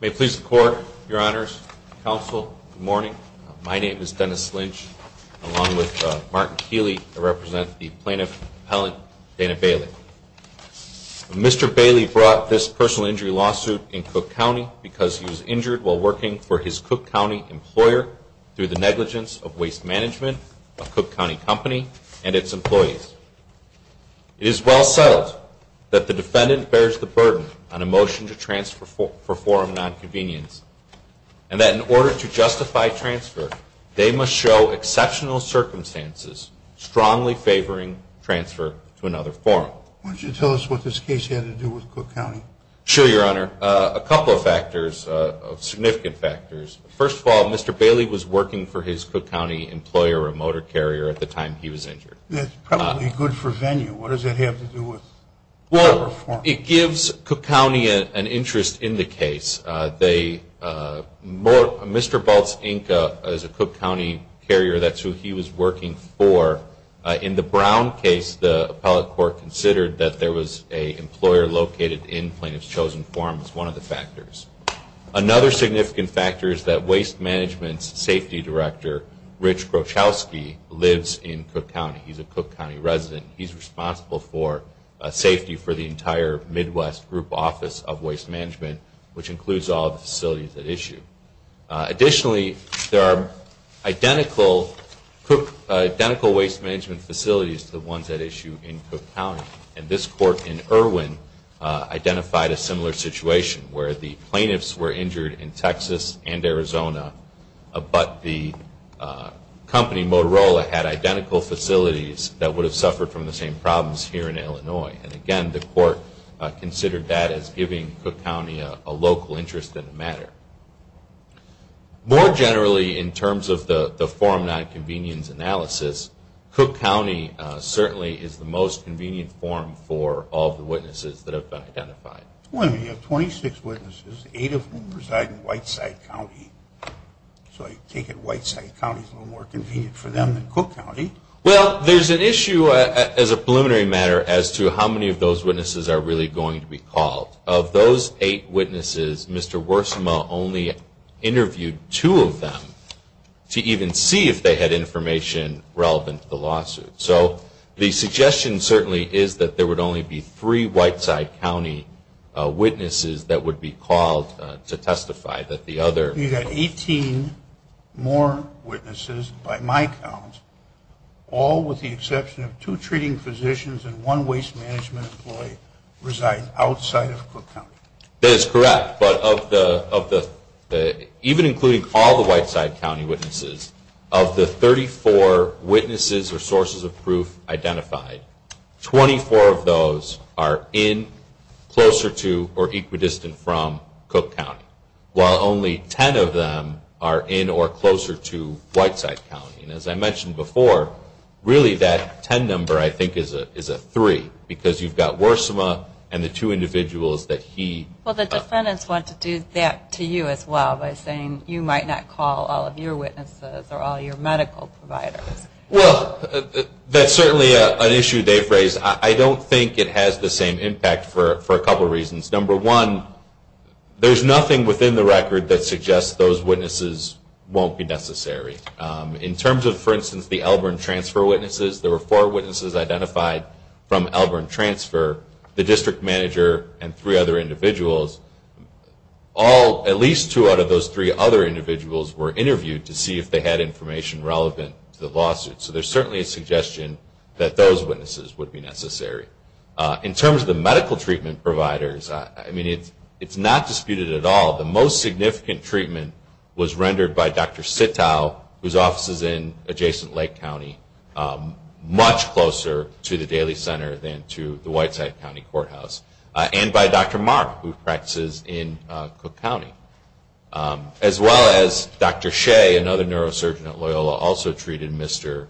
May it please the Court, Your Honors, Counsel, good morning. My name is Dennis Lynch, along with Martin Keeley, I represent the Plaintiff Appellant Dana Bailey. Mr. Bailey brought this personal injury lawsuit in Cook County because he was injured while working for his Cook County employer through the negligence of Waste Management, a Cook County company, and its employees. It is well settled that the defendant bears the burden on a motion to transfer for nonconvenience, and that in order to justify transfer, they must show exceptional circumstances, strongly favoring transfer to another firm. Why don't you tell us what this case had to do with Cook County? Sure, Your Honor. A couple of factors, significant factors. First of all, Mr. Bailey was working for his Cook County employer, a motor carrier, at the time he was injured. That's probably good for venue. What does that have to do with the reform? Well, it gives Cook County an interest in the case. Mr. Baltz, Inc., is a Cook County carrier. That's who he was working for. In the Brown case, the appellate court considered that there was an employer located in Plaintiff's Chosen Forum as one of the factors. Another significant factor is that Waste Management's safety director, Rich Groschowski, lives in Cook County. He's a Cook County resident. He's responsible for safety for the entire Midwest group office of Waste Management, which includes all the facilities at issue. Additionally, there are identical Waste Management facilities to the ones at issue in Cook County. This court in Irwin identified a similar situation where the plaintiffs were injured in Texas and Arizona, but the company Motorola had identical facilities that would have suffered from the same problems here in Illinois. Again, the court considered that as giving Cook County a local interest in the matter. More generally, in terms of the forum nonconvenience analysis, Cook County certainly is the most convenient forum for all of the witnesses that have been identified. You have 26 witnesses, 8 of whom reside in Whiteside County. So I take it Whiteside County is a little more convenient for them than Cook County. Well, there's an issue as a preliminary matter as to how many of those witnesses are really going to be called. Of those 8 witnesses, Mr. Worsima only interviewed 2 of them to even see if they had information relevant to the lawsuit. So the suggestion certainly is that there would only be 3 Whiteside County witnesses that would be called to testify. You've got 18 more witnesses, by my count, all with the exception of 2 treating physicians and 1 waste management employee reside outside of Cook County. That is correct, but even including all the Whiteside County witnesses, of the 34 witnesses or sources of proof identified, 24 of those are in, closer to, or equidistant from Cook County, while only 10 of them are in or closer to Whiteside County. And as I mentioned before, really that 10 number I think is a 3, because you've got Worsima and the 2 individuals that he... Well, the defendants want to do that to you as well by saying you might not call all of your witnesses or all your medical providers. Well, that's certainly an issue they've raised. I don't think it has the same impact for a couple reasons. Number 1, there's nothing within the record that suggests those witnesses won't be necessary. In terms of, for instance, the Elburn Transfer witnesses, there were 4 witnesses identified from Elburn Transfer, the district manager and 3 other individuals. At least 2 out of those 3 other individuals were interviewed to see if they had information relevant to the lawsuit. So there's certainly a suggestion that those witnesses would be necessary. In terms of the medical treatment providers, I mean, it's not disputed at all. The most recent is Dr. Sitow, whose office is in adjacent Lake County, much closer to the Daly Center than to the Whiteside County Courthouse. And by Dr. Marra, who practices in Cook County. As well as Dr. Shea, another neurosurgeon at Loyola, also treated Mr.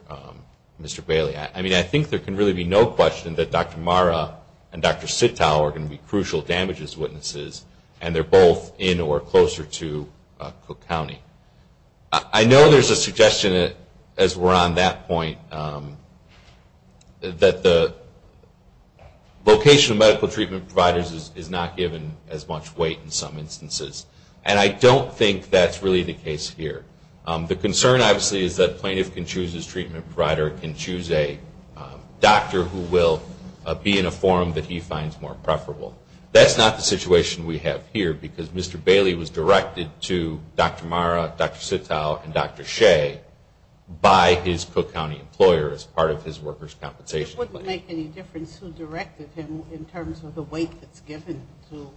Bailey. I mean, I think there can really be no question that Dr. Marra and Dr. Sitow are going to be crucial damages witnesses. And they're both in or closer to Cook County. I know there's a suggestion as we're on that point, that the location of medical treatment providers is not given as much weight in some instances. And I don't think that's really the case here. The concern obviously is that plaintiff can choose his treatment provider, can choose a doctor who will be in a form that he finds more preferable. That's not the situation we have here, because Mr. Bailey was directed to Dr. Marra, Dr. Sitow, and Dr. Shea, by his Cook County employer as part of his workers' compensation plan. It wouldn't make any difference who directed him in terms of the weight that's given to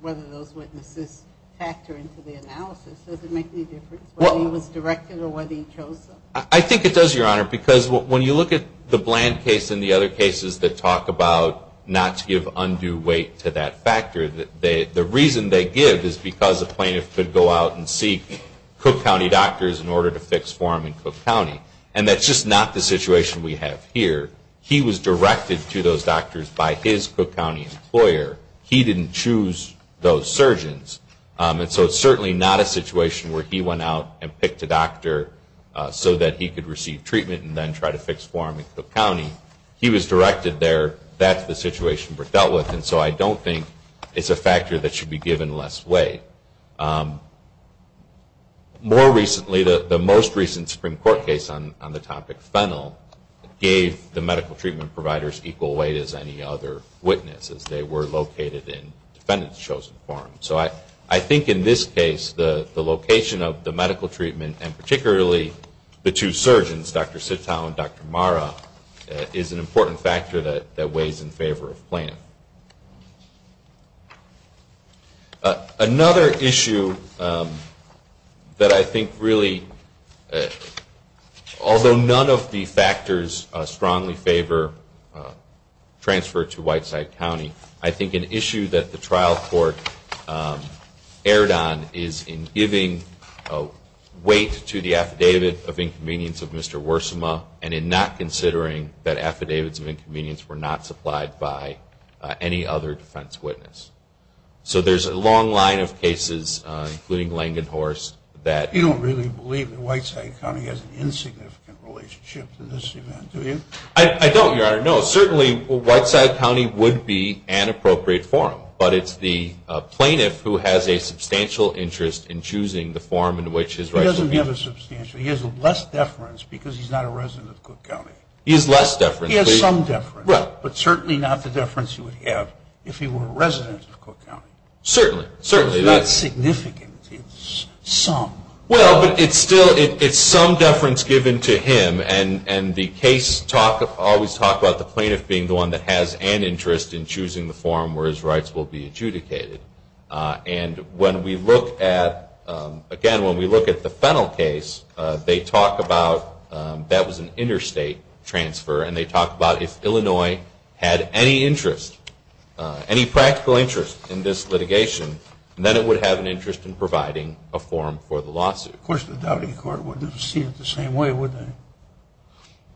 whether those witnesses factor into the analysis. Does it make any difference whether he was directed or whether he chose them? I think it does, Your Honor, because when you look at the Bland case and the other cases that talk about not to give undue weight to that factor, the reason they give is because a plaintiff could go out and seek Cook County doctors in order to fix for him in Cook County. And that's just not the situation we have here. He was directed to those doctors by his Cook County employer. He didn't choose those surgeons. And so it's certainly not a situation where he went out and picked a doctor so that he could receive treatment and then try to fix for him in Cook County. He was directed there. That's the situation we're dealt with. And so I don't think it's a factor that should be given less weight. More recently, the most recent Supreme Court case on the topic, Fennell, gave the medical treatment providers equal weight as any other witnesses. They were located in defendant's chosen forum. So I think in this case, the location of the medical treatment and particularly the two surgeons, Dr. Sitow and Dr. Marra, is an important factor that weighs in favor of Plaintiff. Another issue that I think really, although none of the factors strongly favor transfer to Whiteside County, I think an issue that the trial court erred on is in giving weight to the affidavit of inconvenience of Mr. Wersima and in not considering that affidavits of inconvenience were not supplied by any other defense witness. So there's a long line of cases, including Langenhorst, that- You don't really believe that Whiteside County has an insignificant relationship to this event, do you? I don't, Your Honor. No, certainly Whiteside County would be an appropriate forum. But it's the plaintiff who has a substantial interest in choosing the forum in which his rights will be- He doesn't have a substantial. He has less deference because he's not a resident of Cook County. He has less deference. He has some deference. Right. But certainly not the deference he would have if he were a resident of Cook County. Certainly. It's not significant. It's some. Well, but it's still, it's some deference given to him. And the case talk, always talk about the plaintiff being the one that has an interest in choosing the forum where his rights will be adjudicated. And when we look at, again, when we look at the Fennell case, they talk about that was an interstate transfer. And they talk about if Illinois had any interest, any practical interest in this litigation, then it would have an interest in providing a forum for the lawsuit. Of course, the Doubting Court wouldn't have seen it the same way, would they?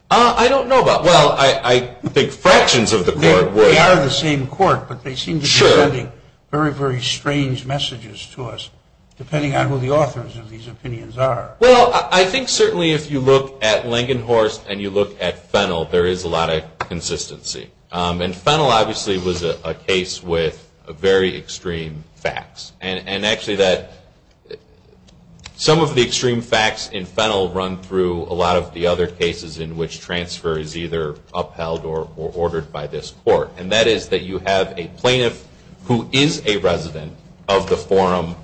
I don't know about, well, I think fractions of the court would. They are the same court, but they seem to be sending very, very strange messages to us, depending on who the authors of these opinions are. Well, I think certainly if you look at Langenhorst and you look at Fennell, there is a lot of consistency. And Fennell obviously was a case with very extreme facts. And actually that some of the extreme facts in Fennell run through a lot of the other cases in which transfer is either upheld or ordered by this court. And that is that you have a plaintiff who is a resident of the forum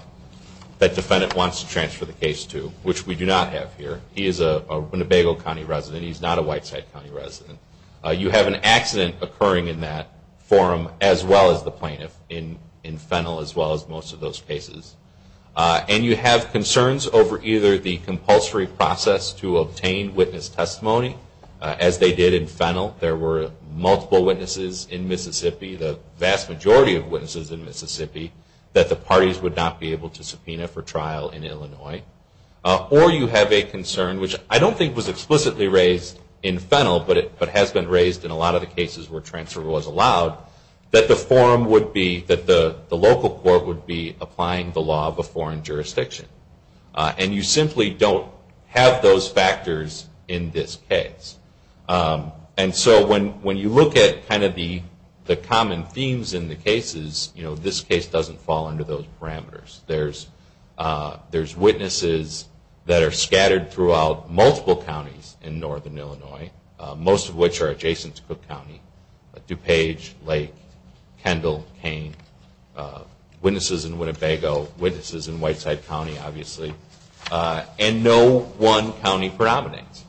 that defendant wants to transfer the case to, which we do not have here. He is a Winnebago County resident. He's not a Whiteside County resident. You have an accident occurring in that forum, as well as the plaintiff in Fennell, as well as most of those cases. And you have concerns over either the compulsory process to obtain witness testimony, as they did in Fennell. There were multiple witnesses in Mississippi, the vast majority of witnesses in Mississippi, that the parties would not be able to subpoena for trial in Illinois. Or you have a concern, which I don't think was explicitly raised in Fennell, but has been raised in a lot of the cases where transfer was allowed, that the forum would be, that the local court would be applying the law of a foreign jurisdiction. And you simply don't have those factors in this case. And so when you look at kind of the common themes in the cases, you know, this case doesn't fall under those parameters. There's witnesses that are scattered throughout multiple counties in northern Illinois, most of which are adjacent to Cook County. DuPage, Lake, Kendall, Kane. Witnesses in Winnebago. Witnesses in Whiteside County, obviously. And no one county predominates.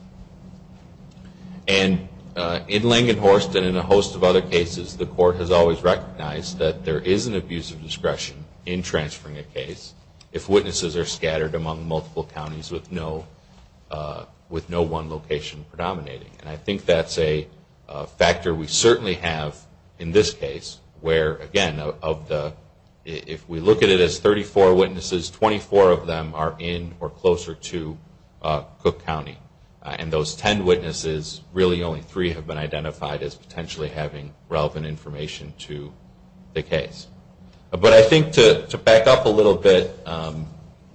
And in Langenhorst and in a host of other cases, the court has always recognized that there is an abuse of discretion in transferring a case if witnesses are scattered among multiple counties with no, with no one location predominating. And I think that's a factor we certainly have in this case where, again, of the, if we look at it as 34 witnesses, 24 of them are in or closer to Cook County. And those 10 witnesses, really only three have been identified as potentially having relevant information to the case. But I think to back up a little bit,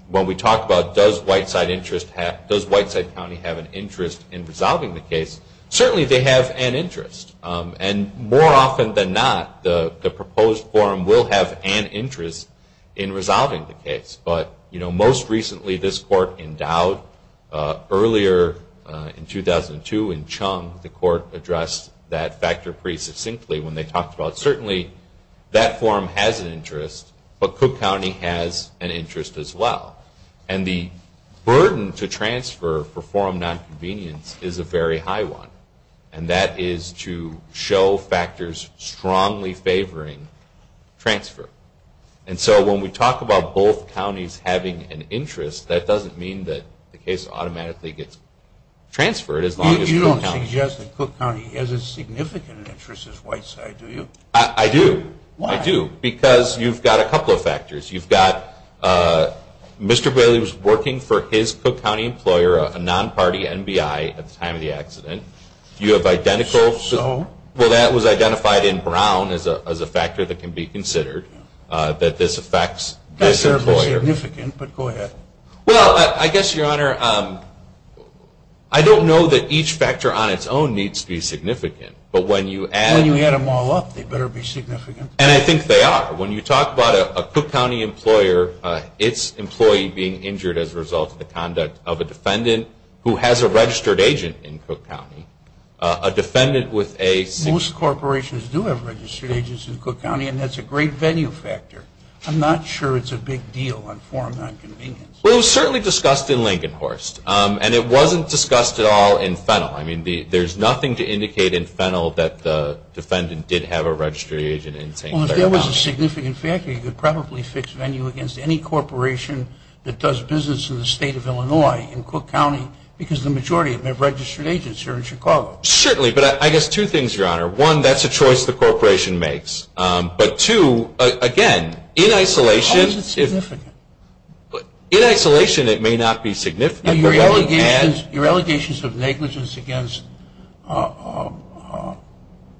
when we talk about does Whiteside interest have, does Whiteside County have an interest in resolving the case, certainly they have an interest. And more often than not, the proposed forum will have an interest in resolving the case. But, you know, most recently this court endowed, earlier in 2002 in Chung, the court addressed that factor pretty succinctly when they talked about it. Certainly that forum has an interest, but Cook County has an interest as well. And the burden to transfer for forum nonconvenience is a very high one. And that is to show factors strongly favoring transfer. And so when we talk about both counties having an interest, that doesn't mean that the case automatically gets transferred as long as Cook County. You don't suggest that Cook County has a significant interest as Whiteside, do you? I do. Why? I do. Because you've got a couple of factors. You've got Mr. Bailey was working for his Cook County employer, a non-party NBI, at the time of the accident. You have identical... So? Well, that was identified in brown as a factor that can be considered that this affects this employer. That's fairly significant, but go ahead. Well, I guess, Your Honor, I don't know that each factor on its own needs to be significant, but when you add... When you add them all up, they better be significant. And I think they are. When you talk about a Cook County employer, its employee being injured as a result of the conduct of a defendant who has a registered agent in Cook County, a defendant with a... Most corporations do have registered agents in Cook County, and that's a great venue factor. I'm not sure it's a big deal on foreign non-convenience. Well, it was certainly discussed in Lincoln Horst, and it wasn't discussed at all in Fennel. I mean, there's nothing to indicate in Fennel that the defendant did have a registered agent in St. Clair County. Well, if there was a significant factor, you could probably fix venue against any corporation that does business in the state of Illinois, in Cook County, because the majority of their registered agents are in Chicago. Certainly, but I guess two things, Your Honor. One, that's a choice the corporation makes, but two, again, in isolation... How is it significant? In isolation, it may not be significant... Your allegations of negligence against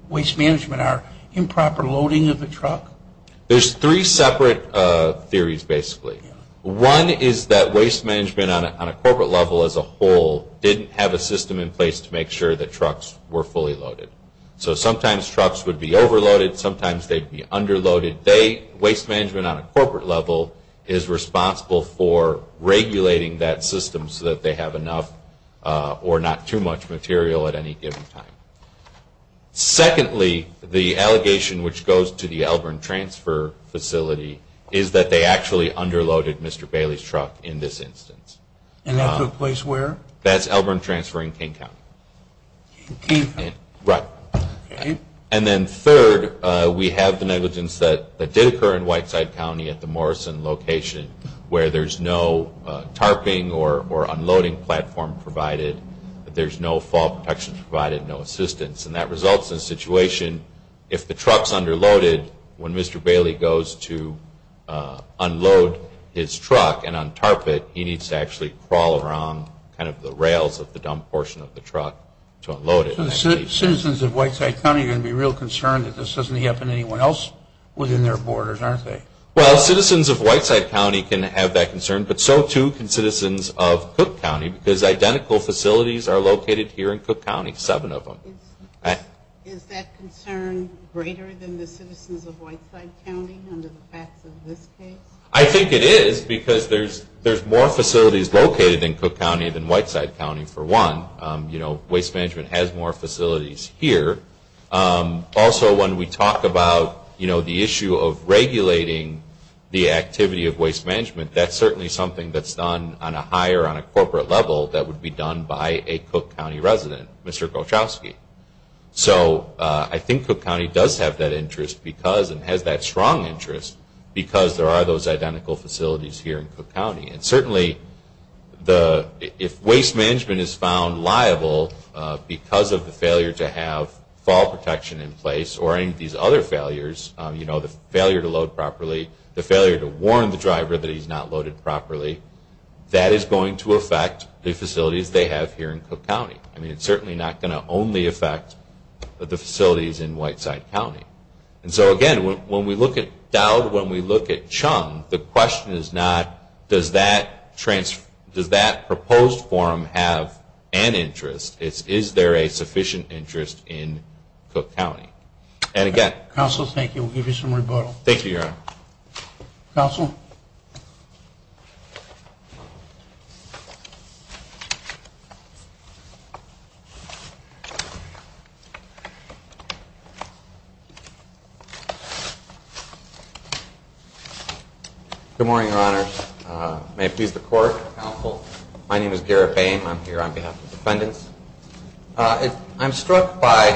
waste management are improper loading of the truck? There's three separate theories, basically. One is that waste management on a corporate level as a whole didn't have a system in place to make sure that trucks were fully loaded. So sometimes trucks would be overloaded, sometimes they'd be underloaded. Waste management on a corporate level is responsible for regulating that system so that they have enough or not too much material at any given time. Secondly, the allegation which goes to the Elburn Transfer Facility is that they actually underloaded Mr. Bailey's truck in this instance. And that took place where? That's Elburn Transfer in King County. In King County? Right. And then third, we have the negligence that did occur in Whiteside County at the Morrison location where there's no tarping or unloading platform provided, that there's no fall protection provided, no assistance, and that results in a situation, if the truck's underloaded, when Mr. Bailey goes to unload his truck and untarp it, he needs to actually crawl around kind of the rails of the dump portion of the truck to unload it. So the citizens of Whiteside County are going to be real concerned that this doesn't happen to anyone else within their borders, aren't they? Well, citizens of Whiteside County can have that concern, but so too can citizens of Cook County because identical facilities are located here in Cook County, seven of them. Is that concern greater than the citizens of Whiteside County under the facts of this case? I think it is because there's more facilities located in Cook County than Whiteside County, for one. Waste management has more facilities here. Also, when we talk about the issue of regulating the activity of waste management, that's certainly something that's done on a higher, on a corporate level that would be done by a Cook County resident, Mr. Kochowski. So I think Cook County does have that interest because, and has that strong interest, because there are those identical facilities here in Cook County. And certainly, if waste management is found liable because of the failure to have fall protection in place or any of these other failures, you know, the failure to load properly, the failure to warn the driver that he's not loaded properly, that is going to affect the facilities they have here in Cook County. I mean, it's certainly not going to only affect the facilities in Whiteside County. And so again, when we look at Dowd, when we look at Chung, the question is not, does that proposed forum have an interest? It's, is there a sufficient interest in Cook County? And again... Counsel, thank you. We'll give you some rebuttal. Thank you, Your Honor. Counsel? Good morning, Your Honors. May it please the Court. Counsel. My name is Garrett Boehm. I'm here on behalf of the defendants. I'm struck by,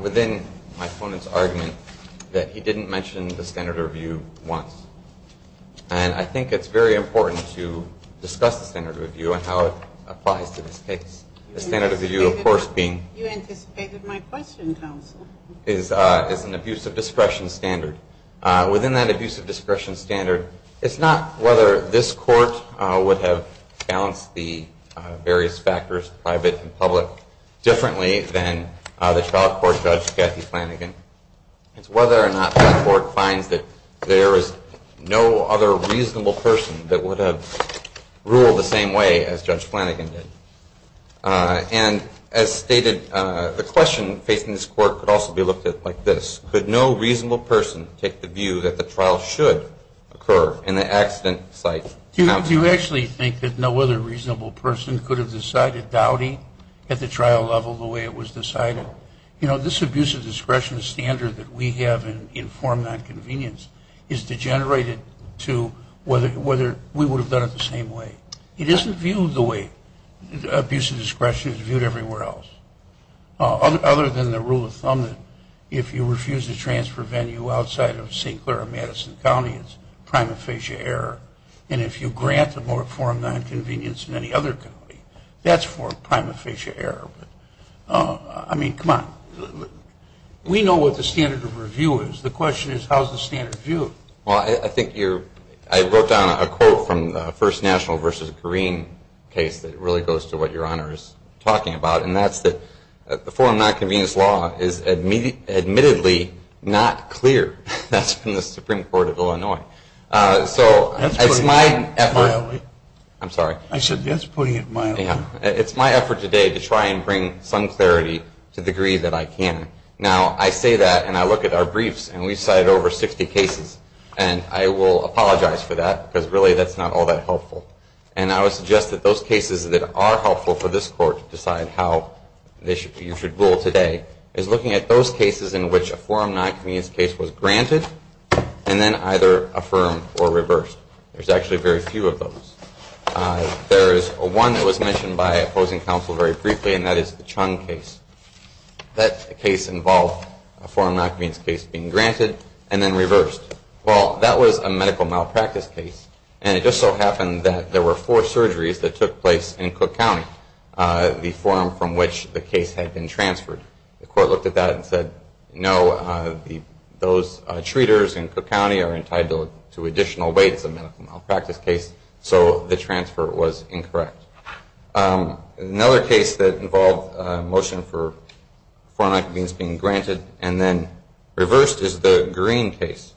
within my standard of view once. And I think it's very important to discuss the standard of view and how it applies to this case. The standard of view, of course, being... You anticipated my question, Counsel. ...is an abuse of discretion standard. Within that abuse of discretion standard, it's not whether this Court would have balanced the various factors, private and public, differently than the trial court Judge Kathy Flanagan. It's whether or not that Court finds that there is no other reasonable person that would have ruled the same way as Judge Flanagan did. And as stated, the question facing this Court could also be looked at like this. Could no reasonable person take the view that the trial should occur in the accident site? Do you actually think that no other reasonable person could have decided Dowdy at the trial level the way it was decided? You know, this abuse of discretion standard that we have in forum nonconvenience is degenerated to whether we would have done it the same way. It isn't viewed the way abuse of discretion is viewed everywhere else. Other than the rule of thumb that if you refuse to transfer venue outside of St. Clair or Madison County, it's prima facie error. And if you grant the forum nonconvenience in any other county, that's for prima facie error. I mean, come on. We know what the standard of review is. The question is how is the standard viewed? Well, I think you're, I wrote down a quote from the first national versus green case that really goes to what your Honor is talking about, and that's that the forum nonconvenience law is admittedly not clear. That's from the Supreme Court of Illinois. That's putting it mildly. I'm sorry. I said that's putting it mildly. Yeah. It's my effort today to try and bring some clarity to the degree that I can. Now, I say that, and I look at our briefs, and we cited over 60 cases. And I will apologize for that, because really that's not all that helpful. And I would suggest that those cases that are helpful for this Court to decide how you should rule today is looking at those cases in which a forum nonconvenience case was granted and then either affirmed or reversed. There's actually very few of those. There is one that was mentioned by opposing counsel very briefly, and that is the Chung case. That case involved a forum nonconvenience case being granted and then reversed. Well, that was a medical malpractice case, and it just so happened that there were four surgeries that took place in Cook County, the forum from which the case had been transferred. The Court looked at that and said, no, those treaters in Cook County are entitled to additional weight as a medical malpractice case. So the transfer was incorrect. Another case that involved a motion for forum nonconvenience being granted and then reversed is the Green case,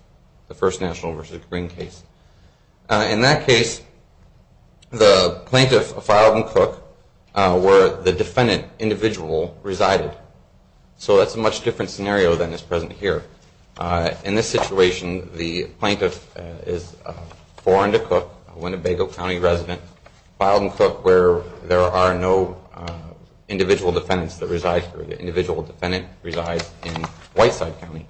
the first national versus Green case. In that case, the plaintiff filed in Cook where the defendant individual resided. So that's a much different scenario than is foreign to Cook, Winnebago County resident, filed in Cook where there are no individual defendants that reside there. The individual defendant resides in Whiteside County.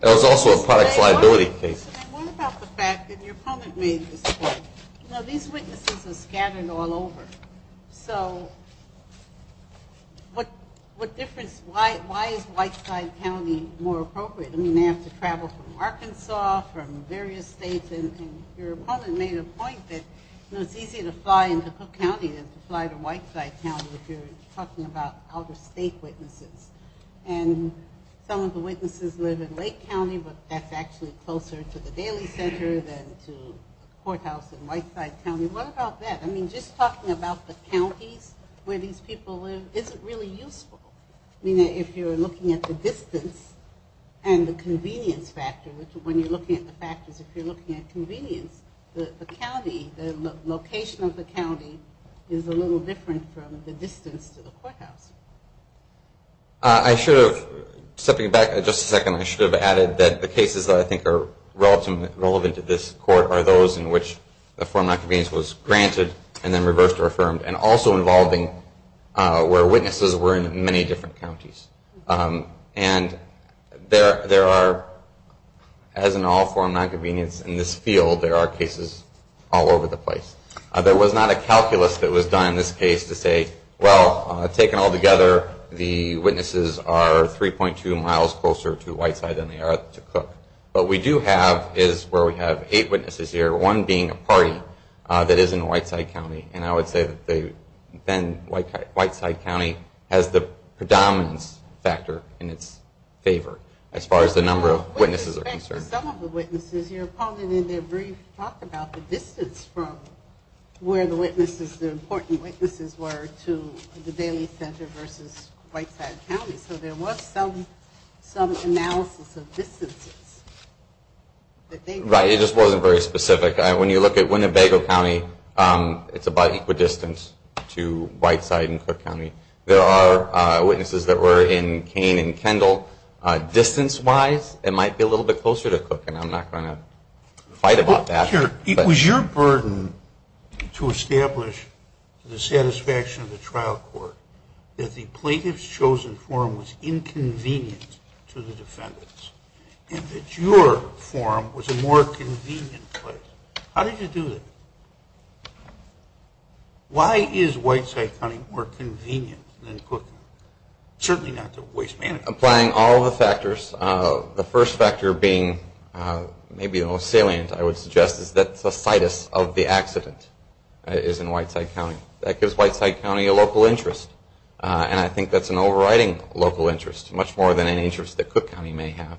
That was also a product liability case. One about the fact that your comment made at this point, you know, these witnesses are scattered all over. So what difference, why is Whiteside County more appropriate? I mean, you have to travel from Arkansas, from various states, and your opponent made a point that it's easier to fly into Cook County than to fly to Whiteside County if you're talking about other state witnesses. And some of the witnesses live in Lake County, but that's actually closer to the Daly Center than to Courthouse in Whiteside County. What about that? I mean, just talking about the counties where these people live isn't really useful. I mean, if you're looking at the distance and the convenience factor, when you're looking at the factors, if you're looking at convenience, the county, the location of the county is a little different from the distance to the courthouse. I should have, stepping back just a second, I should have added that the cases that I think are relevant to this court are those in which the form of nonconvenience was granted and then reversed or affirmed, and also involving where witnesses were in many different counties. And there are, as in all form of nonconvenience in this field, there are cases all over the place. There was not a calculus that was done in this case to say, well, taken all together, the witnesses are 3.2 miles closer to Whiteside than they are to Cook. But what we do have is where we have eight witnesses here, one being a party that is in Whiteside County. And I would say that they, then Whiteside County has the predominance factor in its favor as far as the number of witnesses are concerned. With respect to some of the witnesses, you're calling in their brief talk about the distance from where the witnesses, the important witnesses were to the Daly Center versus Whiteside County. So there was some analysis of distances. Right. It just wasn't very specific. When you look at Winnebago County, it's about equidistant to Whiteside and Cook County. There are witnesses that were in Kane and Kendall. Distance-wise, it might be a little bit closer to Cook, and I'm not going to fight about that. Was your burden to establish the satisfaction of the trial court that the plaintiff's chosen forum was inconvenient to the defendants and that your forum was a more convenient place? How did you do that? Why is Whiteside County more convenient than Cook? Certainly not to waste money. Applying all the factors. The first factor being maybe the most salient, I would suggest, is that the situs of the accident is in Whiteside County. That gives Whiteside County a local interest, and I think that's an overriding local interest, much more than an interest that Cook County may have.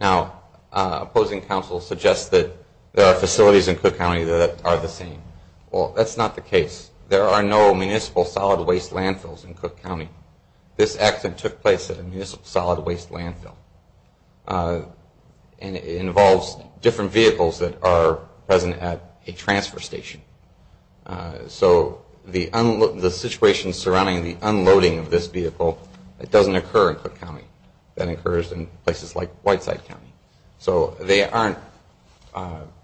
Now, opposing counsel suggests that there are facilities in Cook County that are the same. Well, that's not the case. There are no municipal solid waste landfills in Cook County. This accident took place at a municipal solid waste landfill, and it involves different vehicles that are present at a transfer station. So the situation surrounding the unloading of this vehicle, it doesn't occur in Cook County. That occurs in places like Whiteside County. So they aren't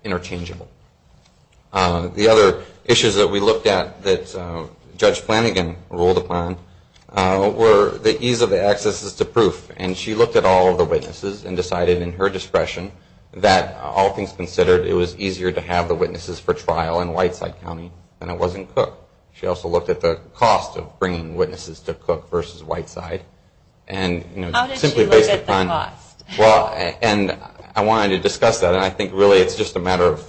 interchangeable. The other issues that we looked at that Judge Flanagan ruled upon were the ease of the accesses to proof, and she looked at all of the witnesses and decided in her discretion that all things considered, it was easier to have the witnesses for trial in Whiteside County than it was in Cook County. And she looked at the cost of bringing witnesses to Cook versus Whiteside. And, you know, simply based upon... How did she look at the cost? Well, and I wanted to discuss that, and I think really it's just a matter of...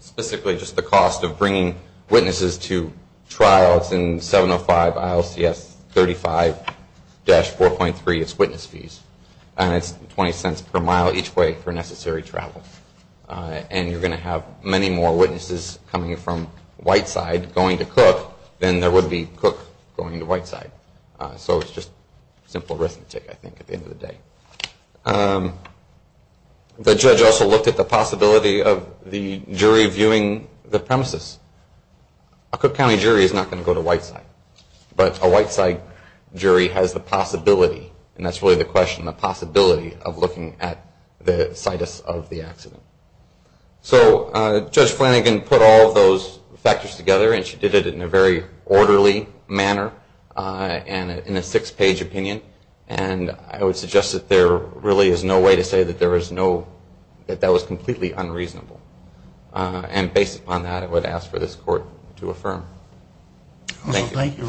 Specifically just the cost of bringing witnesses to trial. It's in 705 ILCS 35-4.3. It's witness fees, and it's 20 cents per mile each way for necessary travel. And you're going to have many more witnesses coming from Whiteside going to Cook than there would be Cook going to Whiteside. So it's just simple arithmetic, I think, at the end of the day. The judge also looked at the possibility of the jury viewing the premises. A Cook County jury is not going to go to Whiteside, but a Whiteside jury has the possibility, and that's really the question, the possibility of looking at the situs of the accident. So Judge Flanagan put all of those factors together, and she did it in a very orderly manner, and in a six-page opinion. And I would suggest that there really is no way to say that there is no... That that was completely unreasonable. And based upon that, I would ask for this Court to affirm. Thank you.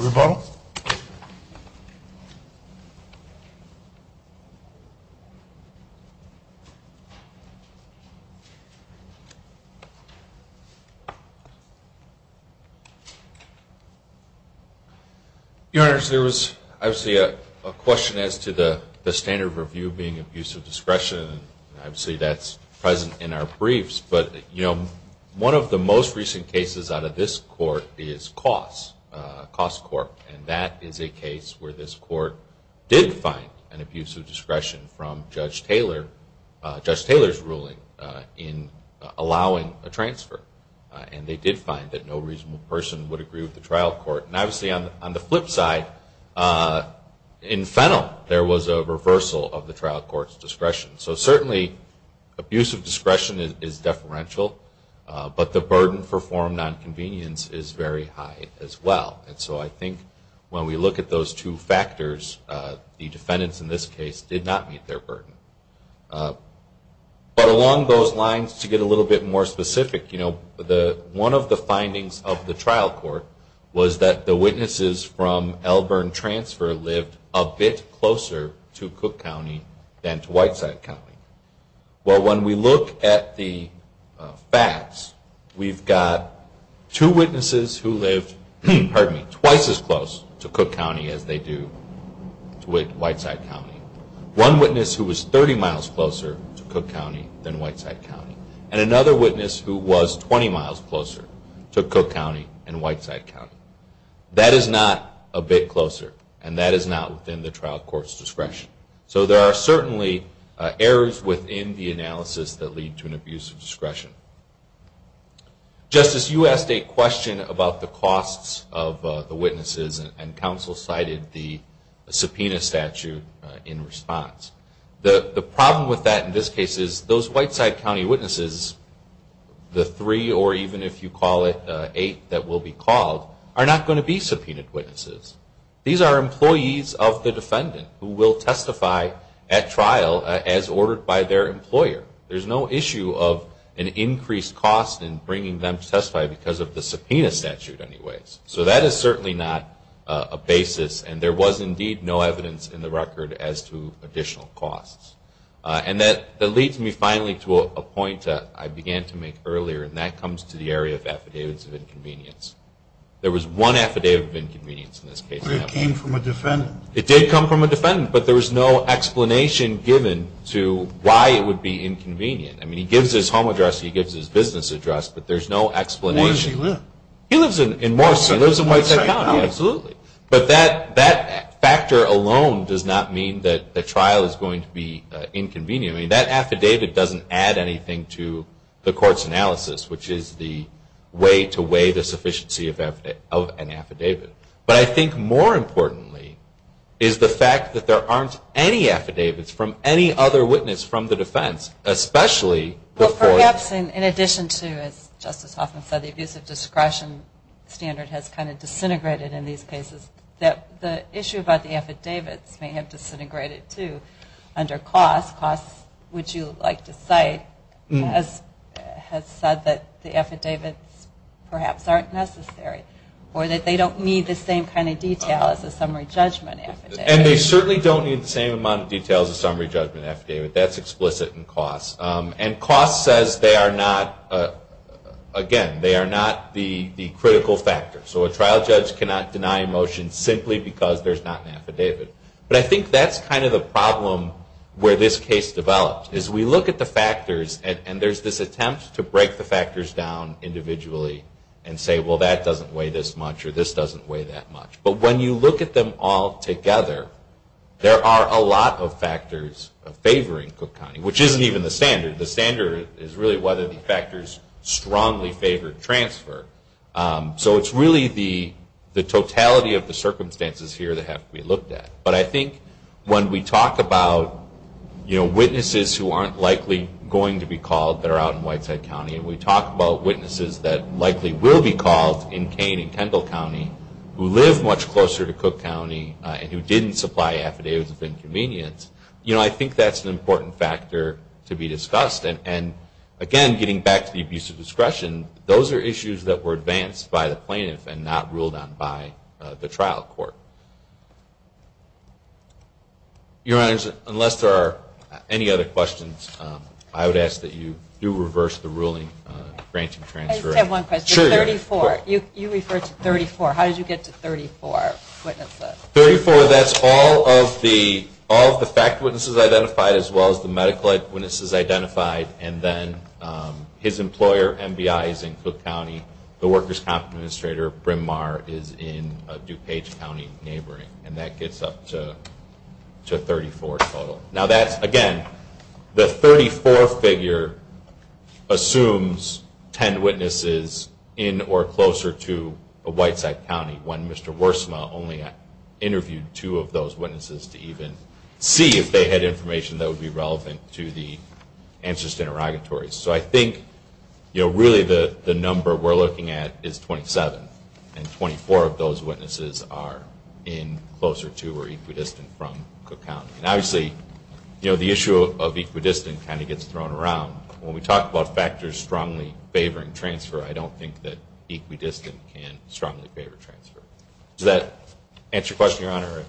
Your Honor, there was obviously a question as to the standard of review being abuse of discretion. And obviously that's present in our briefs. But, you know, one of the most recent cases out of this Court is Coss, Coss Court. And that is a case where this Court did find an abuse of discretion from Judge Taylor, Judge Taylor's ruling in allowing a transfer. And they did find that no reasonable person would agree with the trial court. And obviously on the flip side, in Fennell, there was a reversal of the trial court's discretion. So certainly abuse of discretion is deferential, but the burden for form nonconvenience is very high as well. And so I think when we look at those two factors, the defendants in this case did not meet their burden. But along those lines, to get a little bit more specific, you know, one of the findings of the trial court was that the witnesses from Elburn Transfer lived a bit closer to Cook County than to Whiteside County. Well, when we look at the facts, we've got two witnesses who lived, pardon me, twice as close to Cook County as they do to Whiteside County. One witness who was 30 miles closer to Cook County than Whiteside County. And another witness who was 20 miles closer to Cook County than Whiteside County. That is not a bit closer, and that is not within the trial court's discretion. So there are certainly errors within the analysis that lead to an abuse of discretion. Justice, you asked a question about the costs of the witnesses, and counsel cited the subpoena statute in response. The problem with that in this case is those Whiteside County witnesses, the three or even if you call it eight that will be called, are not going to be subpoenaed witnesses. These are employees of the defendant who will testify at trial as ordered by their employer. There's no issue of an increased cost in bringing them to testify because of the subpoena statute anyways. So that is certainly not a basis, and there was indeed no evidence in the record as to additional costs. And that leads me finally to a point that I began to make earlier, and that comes to the area of affidavits of inconvenience. There was one affidavit of inconvenience in this case. It came from a defendant. It did come from a defendant, but there was no explanation given to why it would be inconvenient. I mean, he gives his home address, he gives his business address, but there's no explanation. He lives in Morris. But that factor alone does not mean that the trial is going to be inconvenient. I mean, that affidavit doesn't add anything to the court's analysis, which is the way to weigh the sufficiency of an affidavit. But I think more importantly is the fact that there aren't any affidavits from any other witness from the defense, especially before... Well, perhaps in addition to, as Justice Hoffman said, the abuse of discretion standard has kind of disintegrated in these cases, the issue about the affidavits may have disintegrated, too, under costs. Costs, which you like to cite, has said that the affidavits perhaps aren't necessary, or that they don't need the same kind of detail as a summary judgment affidavit. And they certainly don't need the same amount of detail as a summary judgment affidavit. That's explicit in costs. And costs says they are not, again, they are not the critical factor. So a trial judge cannot deny a motion simply because there's not an affidavit. But I think that's kind of the problem where this case developed, is we look at the factors, and there's this attempt to break the factors down individually and say, well, that doesn't weigh this much or this doesn't weigh that much. But when you look at them all together, there are a lot of factors favoring Cook County, which isn't even the standard. The standard is really whether the factors strongly favor transfer. So it's really the totality of the circumstances here that have to be looked at. But I think when we talk about witnesses who aren't likely going to be called that are out in Whiteside County, and we talk about witnesses that likely will be called in Kane and Kendall County, who live much closer to Cook County and who didn't supply affidavits of inconvenience, I think that's an important factor to be discussed. And again, getting back to the abuse of discretion, those are issues that were advanced by the plaintiff and not ruled on by the trial court. Your Honors, unless there are any other questions, I would ask that you do reverse the ruling granting transfer. I just have one question. 34. You referred to 34. How did you get to 34 witnesses? 34, that's all of the fact witnesses identified as well as the medical eyewitnesses identified, and then his employer, MBI, is in Cook County. The workers' comp administrator, Bryn Mawr, is in DuPage County neighboring. And that gets up to 34 total. Now that's, again, the 34 figure assumes 10 witnesses in or closer to Whiteside County when Mr. Wersma only interviewed two of those witnesses to even see if they had information that would be relevant to the answers to interrogatories. So I think really the number we're looking at is 27. And 24 of those witnesses are in closer to or equidistant from Cook County. And obviously the issue of equidistant kind of gets thrown around. When we talk about factors strongly favoring transfer, I don't think that equidistant can strongly favor transfer. Does that answer your question, Your Honor? Thank you.